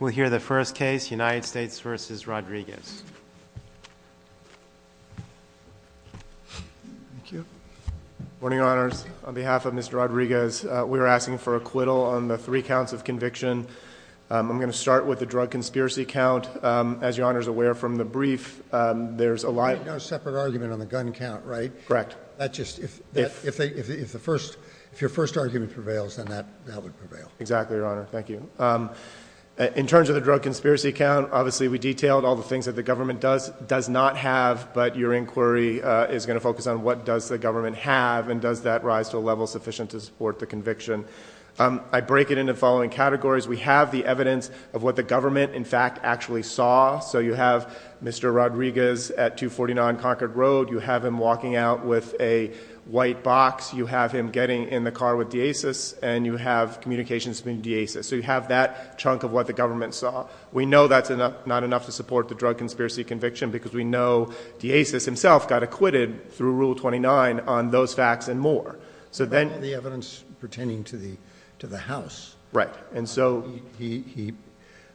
We'll hear the first case, United States v. Rodriguez. Good morning, honors. On behalf of Mr. Rodriguez, we're asking for acquittal on the three counts of conviction. I'm going to start with the drug conspiracy count. As your honor is aware from the brief, there's a lot of separate argument on the gun count, right? Correct. That's just if, if, if the first, if your first argument prevails, then that would prevail. Exactly, your honor. Thank you. Um, in terms of the drug conspiracy count, obviously we detailed all the things that the government does, does not have, but your inquiry is going to focus on what does the government have and does that rise to a level sufficient to support the conviction? Um, I break it into following categories. We have the evidence of what the government in fact actually saw. So you have Mr. Rodriguez at two 49 Concord road. You have him walking out with a white box. You have him getting in the car with Deasis and you have communications between Deasis. So you have that chunk of what the government saw. We know that's not enough to support the drug conspiracy conviction because we know Deasis himself got acquitted through rule 29 on those facts and more. So then the evidence pertaining to the, to the house, right? And so he, he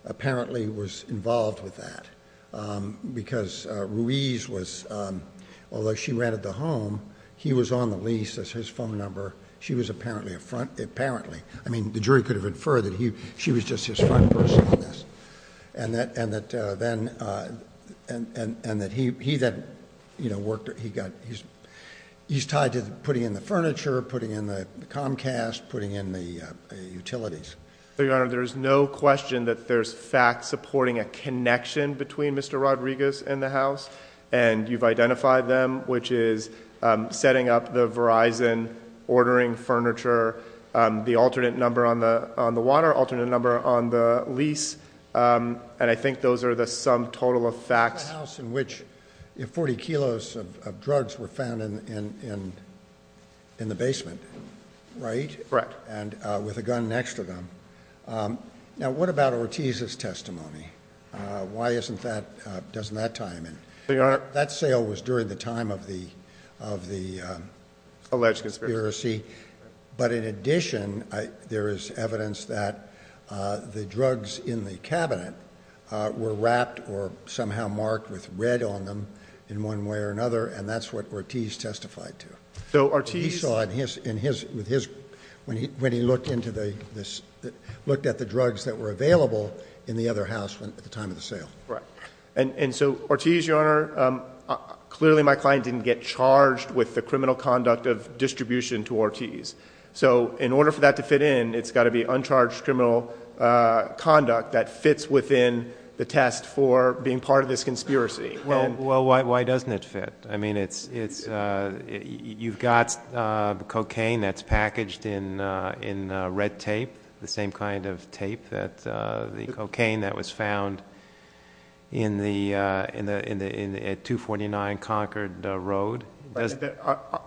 apparently was involved with that. Um, because, uh, Ruiz was, um, although she rented the home, he was on the lease as his phone number. She was apparently a front. Apparently, I mean the jury could have inferred that he, she was just his front person on this and that, and that, uh, then, uh, and, and, and that he, he then, you know, worked or he got, he's, he's tied to putting in the furniture, putting in the Comcast, putting in the, uh, utilities. So your honor, there is no question that there's facts supporting a connection between Mr. Rodriguez and the house and you've identified them, which is, um, setting up the Verizon ordering furniture, um, the alternate number on the, on the water, alternate number on the lease. Um, and I think those are the sum total of facts in which if 40 kilos of drugs were found in, in, in, in the basement, right? Correct. And, uh, with a gun next to them. Um, now what about Ortiz's testimony? Uh, why isn't that, uh, doesn't that tie him in? That sale was during the time of the, of the, um, alleged conspiracy. But in addition, I, there is evidence that, uh, the drugs in the cabinet, uh, were wrapped or somehow marked with red on them in one way or another. And that's what Ortiz testified to. So Ortiz saw in his, in his, with his, when he, when he looked into the, this, looked at the drugs that were available in the other house at the time of the sale. Right. And, and so Ortiz, your honor, um, clearly my client didn't get charged with the criminal conduct of distribution to Ortiz. So in order for that to fit in, it's gotta be uncharged criminal, uh, conduct that fits within the test for being part of this conspiracy. Well, well, why, why doesn't it fit? I mean, it's, it's, uh, you've got, uh, cocaine that's packaged in, uh, in, uh, red tape, the same kind of tape that, uh, the cocaine that was found in the, uh, in the, in the, in the, at 249 Concord Road.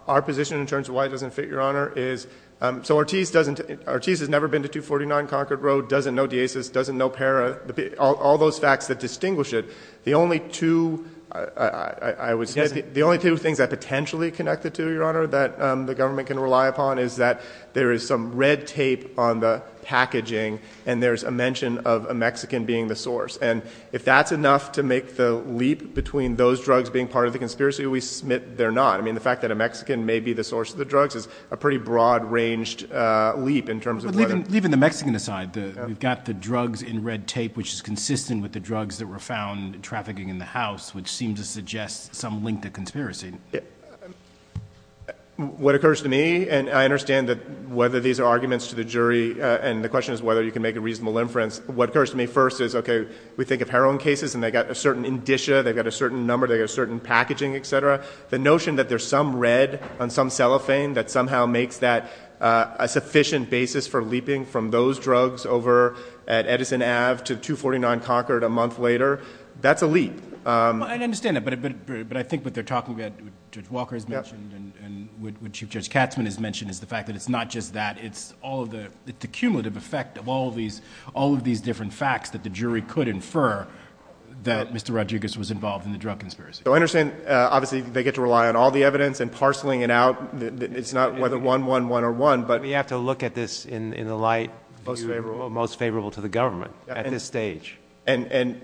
Our position in terms of why it doesn't fit, your honor, is, um, so Ortiz doesn't, Ortiz has never been to 249 Concord Road, doesn't know Deasis, doesn't know Para, all those facts that distinguish it. The only two, I would say the only two things that potentially connected to your honor that, um, the government can rely upon is that there is some red tape on the packaging and there's a mention of a Mexican being the source. And if that's enough to make the leap between those drugs being part of the conspiracy, we submit they're not. I mean, the fact that a Mexican may be the source of the drugs is a pretty broad ranged, uh, leap in terms of, even the Mexican aside, the, we've got the drugs in red tape, which is consistent with the drugs that were found trafficking in the house, which seems to suggest some link to conspiracy. What occurs to me, and I understand that whether these are arguments to the jury, and the question is whether you can make a reasonable inference. What occurs to me first is, okay, we think of heroin cases and they got a certain indicia, they've got a certain number, they got a certain packaging, et cetera. The notion that there's some red on some cellophane that somehow makes that a sufficient basis for leaping from those drugs over at Edison Ave to 249 Concord a that's a leap. Um, I understand that. But, but, but, but I think what they're talking about, Judge Walker's mentioned and what Chief Judge Katzmann has mentioned is the fact that it's not just that it's all of the cumulative effect of all of these, all of these different facts that the jury could infer that Mr. Rodriguez was involved in the drug conspiracy. So I understand, uh, obviously they get to rely on all the evidence and parceling it out. It's not whether one, one, one, or one, but we have to look at this in the light most favorable to the government at this stage. And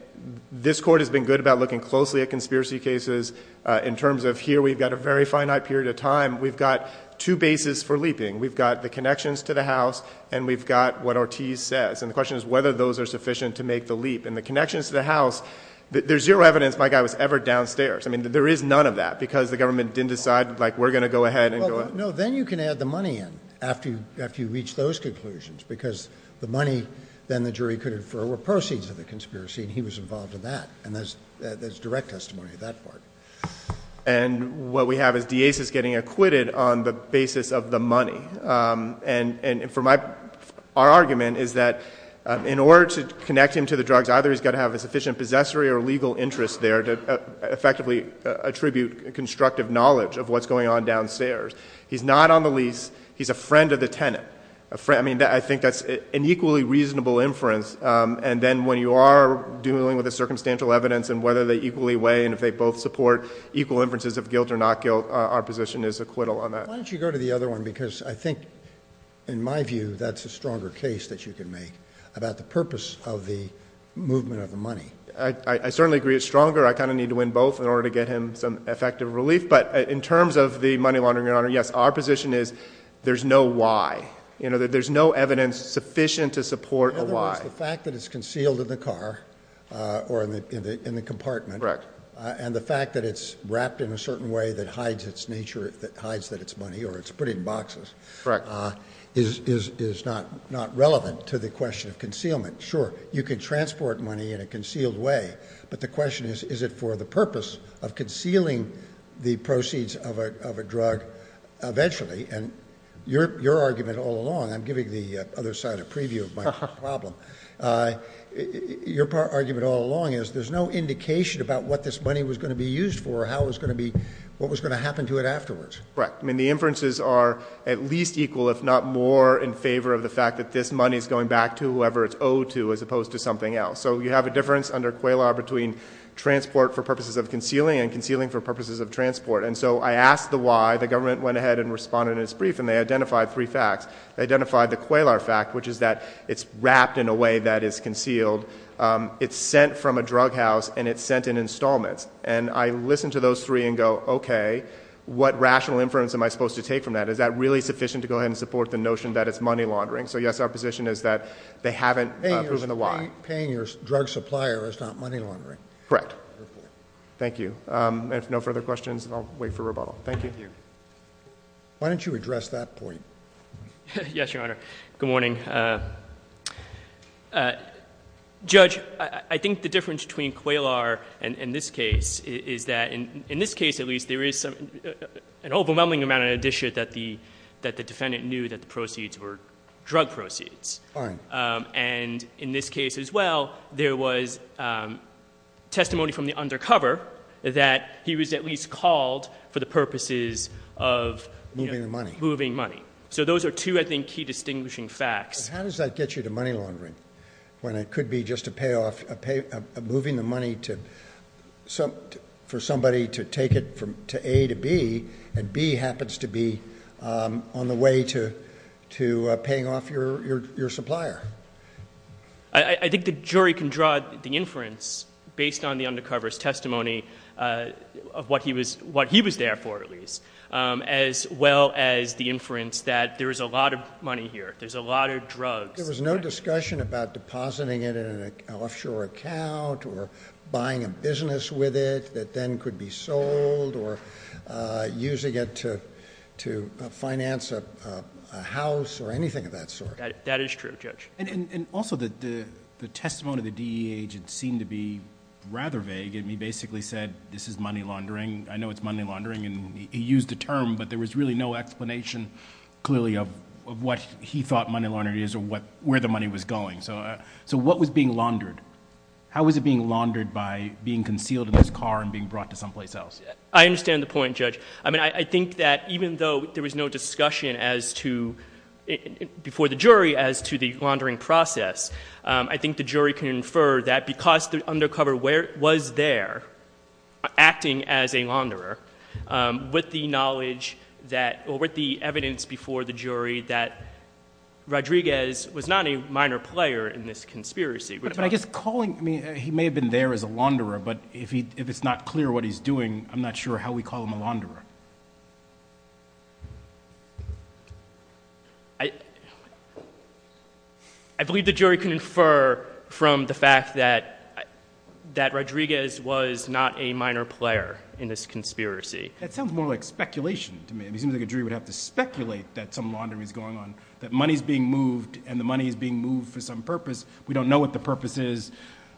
this court has been good about looking closely at conspiracy cases, uh, in terms of here, we've got a very finite period of time. We've got two bases for leaping. We've got the connections to the house and we've got what Ortiz says. And the question is whether those are sufficient to make the leap and the connections to the house. There's zero evidence my guy was ever downstairs. I mean, there is none of that because the government didn't decide like, we're going to go ahead and go. No, then you can add the money in after you, after you reach those conclusions because the money then the jury could infer were proceeds of the conspiracy. And he was involved in that. And there's, there's direct testimony of that part. And what we have is Dias is getting acquitted on the basis of the money. Um, and, and for my, our argument is that, um, in order to connect him to the drugs, either he's got to have a sufficient possessory or legal interest there to effectively attribute constructive knowledge of what's going on downstairs. He's not on the lease. He's a friend of the tenant, a friend. I mean, I think that's an equally reasonable inference. Um, and then when you are dealing with a circumstantial evidence and whether they equally weigh and if they both support equal inferences of guilt or not guilt, our position is acquittal on that. Why don't you go to the other one? Because I think in my view, that's a stronger case that you can make about the purpose of the movement of the money. I certainly agree. It's stronger. I kind of need to win both in order to get him some effective relief. But in terms of the money laundering, your honor, yes, our position is there's no why, you know, there's no evidence sufficient to support a why. In other words, the fact that it's concealed in the car, uh, or in the, in the, in the compartment, uh, and the fact that it's wrapped in a certain way that hides its nature, that hides that it's money or it's put in boxes, uh, is, is, is not, not relevant to the question of concealment. Sure. You can transport money in a concealed way, but the question is, is it for the purpose of concealing the proceeds of a, of a drug eventually? And your, your argument all along, I'm giving the other side a preview of my problem. Uh, your part argument all along is there's no indication about what this money was going to be used for, how it's going to be, what was going to happen to it afterwards. Correct. I mean, the inferences are at least equal, if not more in favor of the fact that this money is going back to whoever it's owed to as opposed to something else. So you have a difference under QALAR between transport for purposes of concealing and concealing for purposes of transport. And so I asked the why, the government went ahead and responded in its brief and they identified three facts. They identified the QALAR fact, which is that it's wrapped in a way that is concealed. Um, it's sent from a drug house and it's sent in installments. And I listened to those three and go, okay, what rational inference am I supposed to take from that? Is that really sufficient to go ahead and support the notion that it's money laundering? So yes, our position is that they haven't proven the why. Paying your drug supplier is not money laundering. Correct. Thank you. Um, if no further questions, I'll wait for rebuttal. Thank you. Why don't you address that point? Yes, Your Honor. Good morning. Uh, uh, Judge, I think the difference between QALAR and in this case is that in, in this case, at least there is some, an overwhelming amount of addition that the, that the defendant knew that the proceeds were drug proceeds. Fine. Um, and in this case as well, there was, um, testimony from the undercover that he was at least called for the purposes of, you know, moving money. So those are two, I think, key distinguishing facts. How does that get you to money laundering when it could be just a payoff, a pay, a moving the money to some, for somebody to take it from, to A to B and B happens to be, um, on I, I think the jury can draw the inference based on the undercover's testimony, uh, of what he was, what he was there for at least. Um, as well as the inference that there is a lot of money here. There's a lot of drugs. There was no discussion about depositing it in an offshore account or buying a business with it that then could be sold or, uh, using it to, to finance a, a house or anything of that sort. That is true, Judge. And, and, and also the, the, the testimony of the DEA agent seemed to be rather vague and he basically said, this is money laundering. I know it's money laundering. And he used a term, but there was really no explanation clearly of, of what he thought money laundering is or what, where the money was going. So, uh, so what was being laundered? How was it being laundered by being concealed in this car and being brought to someplace else? I understand the point, Judge. I mean, I think that even though there was no discussion as to, before the jury as to the laundering process, um, I think the jury can infer that because the undercover where was there acting as a launderer, um, with the knowledge that or with the evidence before the jury, that Rodriguez was not a minor player in this conspiracy. But I guess calling me, he may have been there as a launderer, but if he, if it's not clear what he's doing, I'm not sure how we call him a launderer. I believe the jury can infer from the fact that, that Rodriguez was not a minor player in this conspiracy. That sounds more like speculation to me. It seems like a jury would have to speculate that some laundering is going on, that money's being moved and the money is being moved for some purpose. We don't know what the purpose is.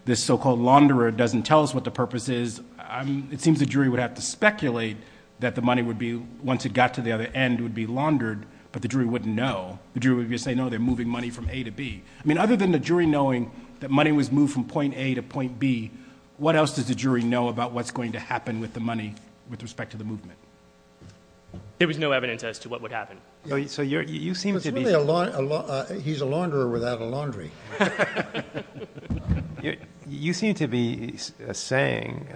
This so-called launderer doesn't tell us what the purpose is. I'm, it seems the jury would have to speculate that the money would be, once it got to the other end, would be laundered, but the jury wouldn't know. The jury would be saying, no, they're moving money from A to B. I mean, other than the jury knowing that money was moved from point A to point B, what else does the jury know about what's going to happen with the money with respect to the movement? There was no evidence as to what would happen. So you're, you seem to be a lot, he's a launderer without a laundry. You seem to be saying,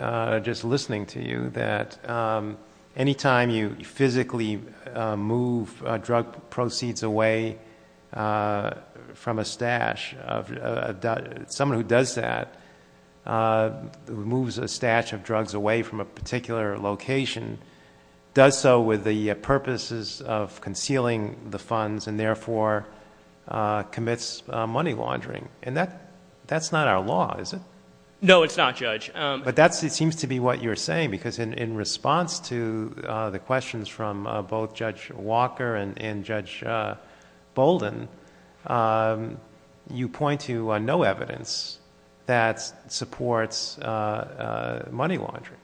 just listening to you, that any time you physically move drug proceeds away from a stash of, someone who does that, moves a stash of drugs away from a particular location, does so with the purposes of concealing the funds and therefore commits money laundering. And that, that's not our law, is it? No, it's not, Judge. But that's, it seems to be what you're saying, because in response to the questions from both Judge Walker and Judge Bolden, you point to no evidence that supports money laundering.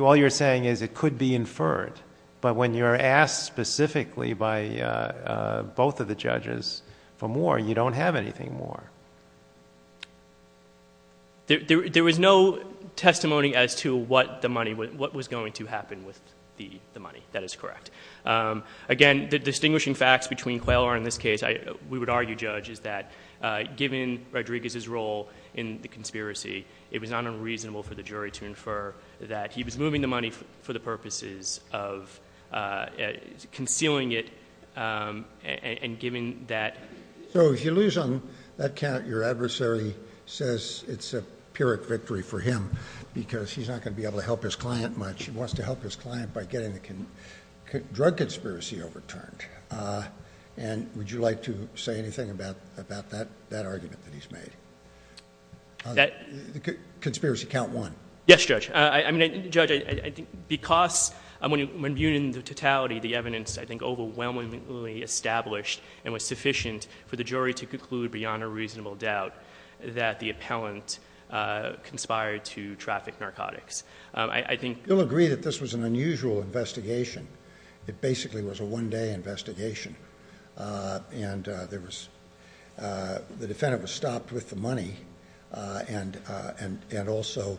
All you're saying is it could be inferred, but when you're asked specifically by both of the judges for more, you don't have anything more. There was no testimony as to what the money, what was going to happen with the money. That is correct. Again, the distinguishing facts between Quayler and this case, we would argue, Judge, is that given Rodriguez's role in the conspiracy, it was not unreasonable for the jury to infer that he was moving the money for the purposes of concealing it and giving that. So if you lose on that count, your adversary says it's a Pyrrhic victory for him because he's not going to be able to help his client much. He wants to help his client by getting the drug conspiracy overturned. And would you like to say anything about that argument that he's made? Conspiracy count one. Yes, Judge. I mean, Judge, I think because when viewed in totality, the evidence, I think, overwhelmingly established and was sufficient for the jury to conclude beyond a reasonable doubt that the appellant conspired to traffic narcotics. I think... You'll agree that this was an unusual investigation. It basically was a one-day investigation. The defendant was stopped with the money and also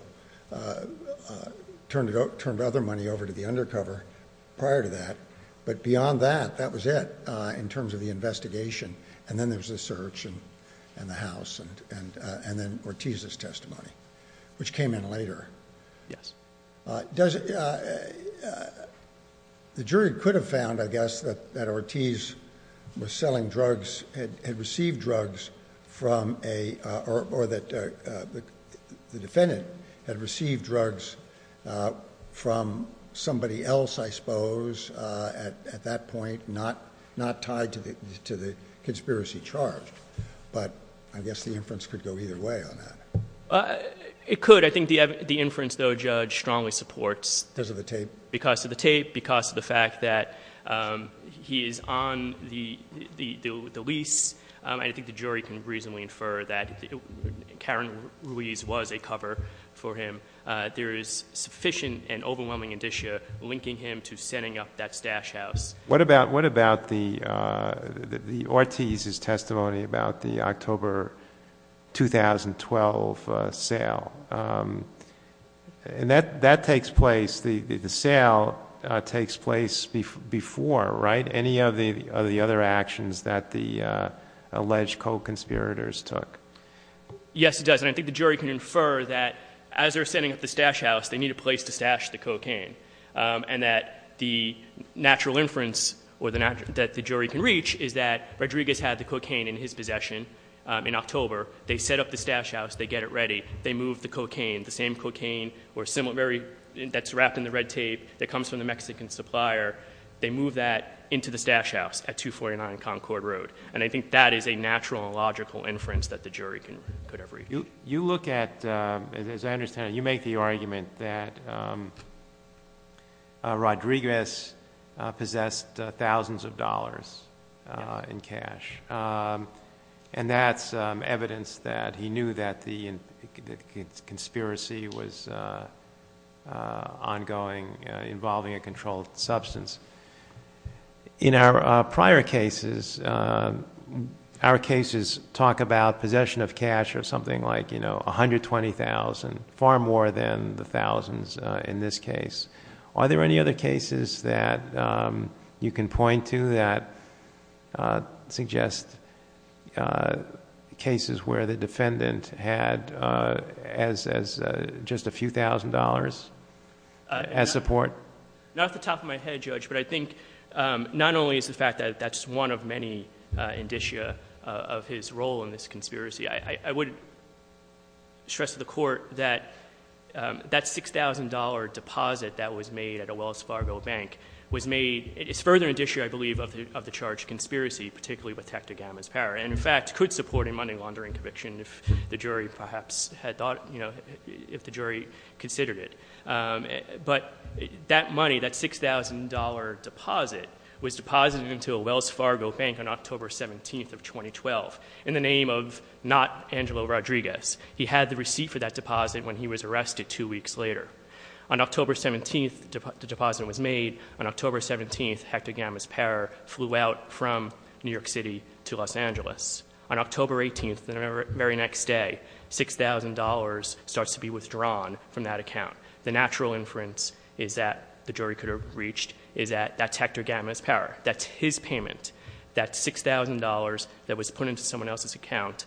turned other money over to the undercover prior to that, but beyond that, that was it in terms of the investigation. Then there was the search and the house and then Ortiz's testimony, which came in later. Yes. The jury could have found, I guess, that Ortiz was selling drugs, had received drugs from a... or that the defendant had received drugs from somebody else, I suppose, at that point, not tied to the conspiracy charge. But I guess the inference could go either way on that. It could. I think the inference, though, Judge, strongly supports... Because of the tape. Because of the tape, because of the fact that he is on the lease. I think the jury can reasonably infer that Karen Ruiz was a cover for him. There is sufficient and overwhelming indicia linking him to setting up that stash house. What about the... Ortiz's testimony about the October 2012 sale? That takes place... the sale takes place before, right, any of the other actions that the alleged co-conspirators took? Yes, it does. And I think the jury can infer that as they were setting up the stash house, they need a place to stash the cocaine. And that the natural inference that the jury can reach is that Rodriguez had the cocaine in his possession in October. They set up the stash house. They get it ready. They move the cocaine, the same cocaine that's wrapped in the red tape that comes from the Mexican supplier. They move that into the stash house at 249 Concord Road. And I think that is a natural and logical inference that the jury could ever reach. You look at, as I understand it, you make the argument that Rodriguez possessed thousands of dollars in cash. And that's evidence that he knew that the conspiracy was ongoing involving a controlled substance. In our prior cases, our cases talk about possession of cash or something like 120,000, far more than the thousands in this case. Are there any other cases that you can point to that suggest cases where the defendant had just a few thousand dollars as support? Not off the top of my head, Judge, but I think not only is the fact that that's one of many indicia of his role in this conspiracy. I would stress to the Court that that $6,000 deposit that was made at a Wells Fargo bank was made, is further indicia, I believe, of the charged conspiracy, particularly with Tectogama's power. And, in fact, could support a money laundering conviction if the jury perhaps had thought, you know, if the jury considered it. But that money, that $6,000 deposit, was deposited into a Wells Fargo bank on October 17th of 2012, in the name of not Angelo Rodriguez. He had the receipt for that deposit when he was arrested two weeks later. On October 17th, the deposit was made. On October 17th, Tectogama's power flew out from New York City to Los Angeles. On October 18th, the very next day, $6,000 starts to be withdrawn from that account. The natural inference is that, the jury could have reached, is that that's Tectogama's power. That's his payment. That $6,000 that was put into someone else's account.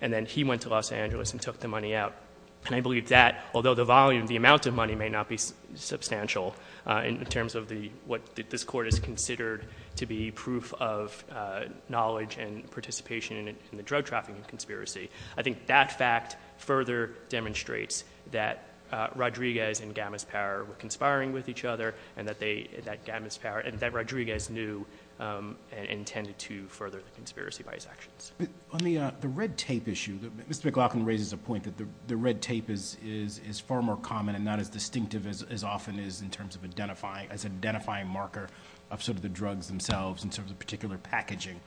And then he went to Los Angeles and took the money out. And I believe that, although the volume, the amount of money may not be substantial, in terms of the, what this Court has considered to be proof of knowledge and participation in the drug trafficking conspiracy. I think that fact further demonstrates that Rodriguez and Gamma's power were conspiring with each other and that they, that Gamma's power, and that Rodriguez knew and intended to further the conspiracy by his actions. On the red tape issue, Mr. McLaughlin raises a point that the red tape is far more common and not as distinctive as often is in terms of identifying, as an identifying marker of sort of the drugs themselves in terms of particular packaging.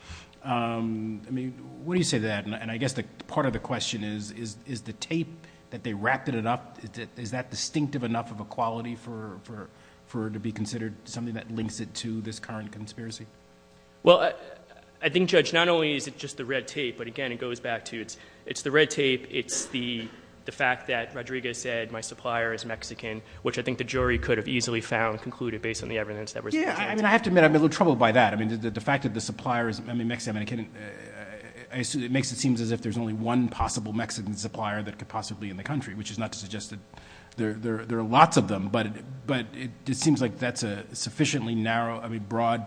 I mean, when you say that, and I guess the part of the question is, is the tape that they wrapped it up, is that distinctive enough of a quality for, for, for it to be considered something that links it to this current conspiracy? Well, I think Judge, not only is it just the red tape, but again, it goes back to, it's, it's the red tape. It's the, the fact that Rodriguez said my supplier is Mexican, which I think the jury could have easily found, concluded based on the evidence that was presented. Yeah. I mean, I have to admit, I'm a little troubled by that. I mean, the, the fact that the supplier is, I mean, Mexican, I can't, I assume, it makes it seems as if there's only one possible Mexican supplier that could possibly be in the country, which is not to say that there are lots of them, but, but it, it seems like that's a sufficiently narrow, I mean, broad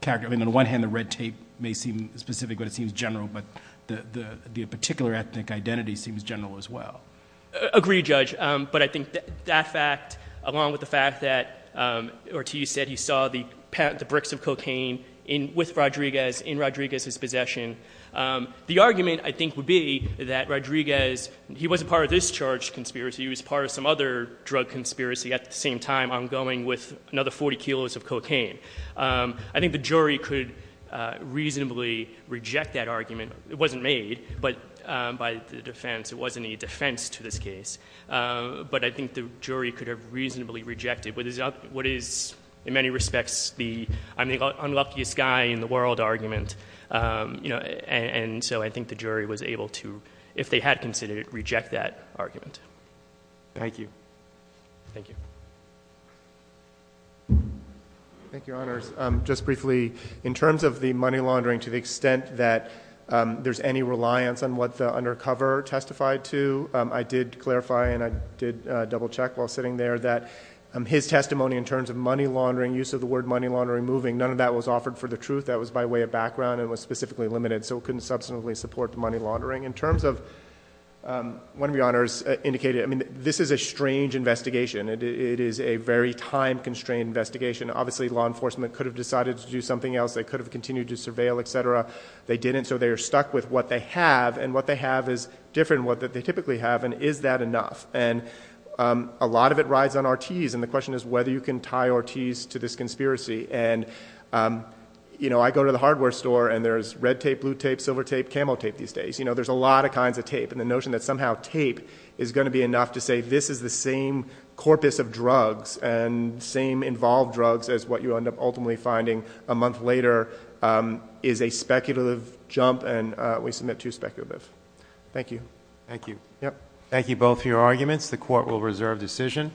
character. I mean, on the one hand, the red tape may seem specific, but it seems general, but the, the, the particular ethnic identity seems general as well. Agreed, Judge. But I think that fact, along with the fact that Ortiz said he saw the bricks of cocaine in, with Rodriguez, in Rodriguez's possession, the argument I think would be that Rodriguez, he wasn't part of this charge conspiracy, he was part of some other drug conspiracy at the same time, ongoing with another 40 kilos of cocaine. I think the jury could reasonably reject that argument. It wasn't made, but by the defense, it wasn't a defense to this case. But I think the jury could have reasonably rejected what is, what is in many respects the, I'm the unluckiest guy in the world argument. You know, and so I think the jury was able to, if they had considered it, reject that argument. Thank you. Thank you. Thank you, Your Honors. Just briefly, in terms of the money laundering, to the extent that there's any reliance on what the undercover testified to, I did clarify and I did double check while sitting there that his testimony in terms of money laundering, use of the word money laundering, moving, none of that was offered for the truth. That was by way of background and was specifically limited. So it couldn't substantively support the money laundering. In terms of, one of Your Honors indicated, I mean, this is a strange investigation. It is a very time constrained investigation. Obviously law enforcement could have decided to do something else. They could have continued to surveil, et cetera. They didn't. So they are stuck with what they have and what they have is different than what they typically have. And is that enough? And a lot of it rides on Ortiz. And the question is whether you can tie Ortiz to this conspiracy. And you know, I go to the hardware store and there's red tape, blue tape, silver tape, camo tape these days. You know, there's a lot of kinds of tape. And the notion that somehow tape is going to be enough to say this is the same corpus of drugs and same involved drugs as what you end up ultimately finding a month later is a speculative jump and we submit to speculative. Thank you. Thank you. Thank you both for your arguments. The court will reserve decision.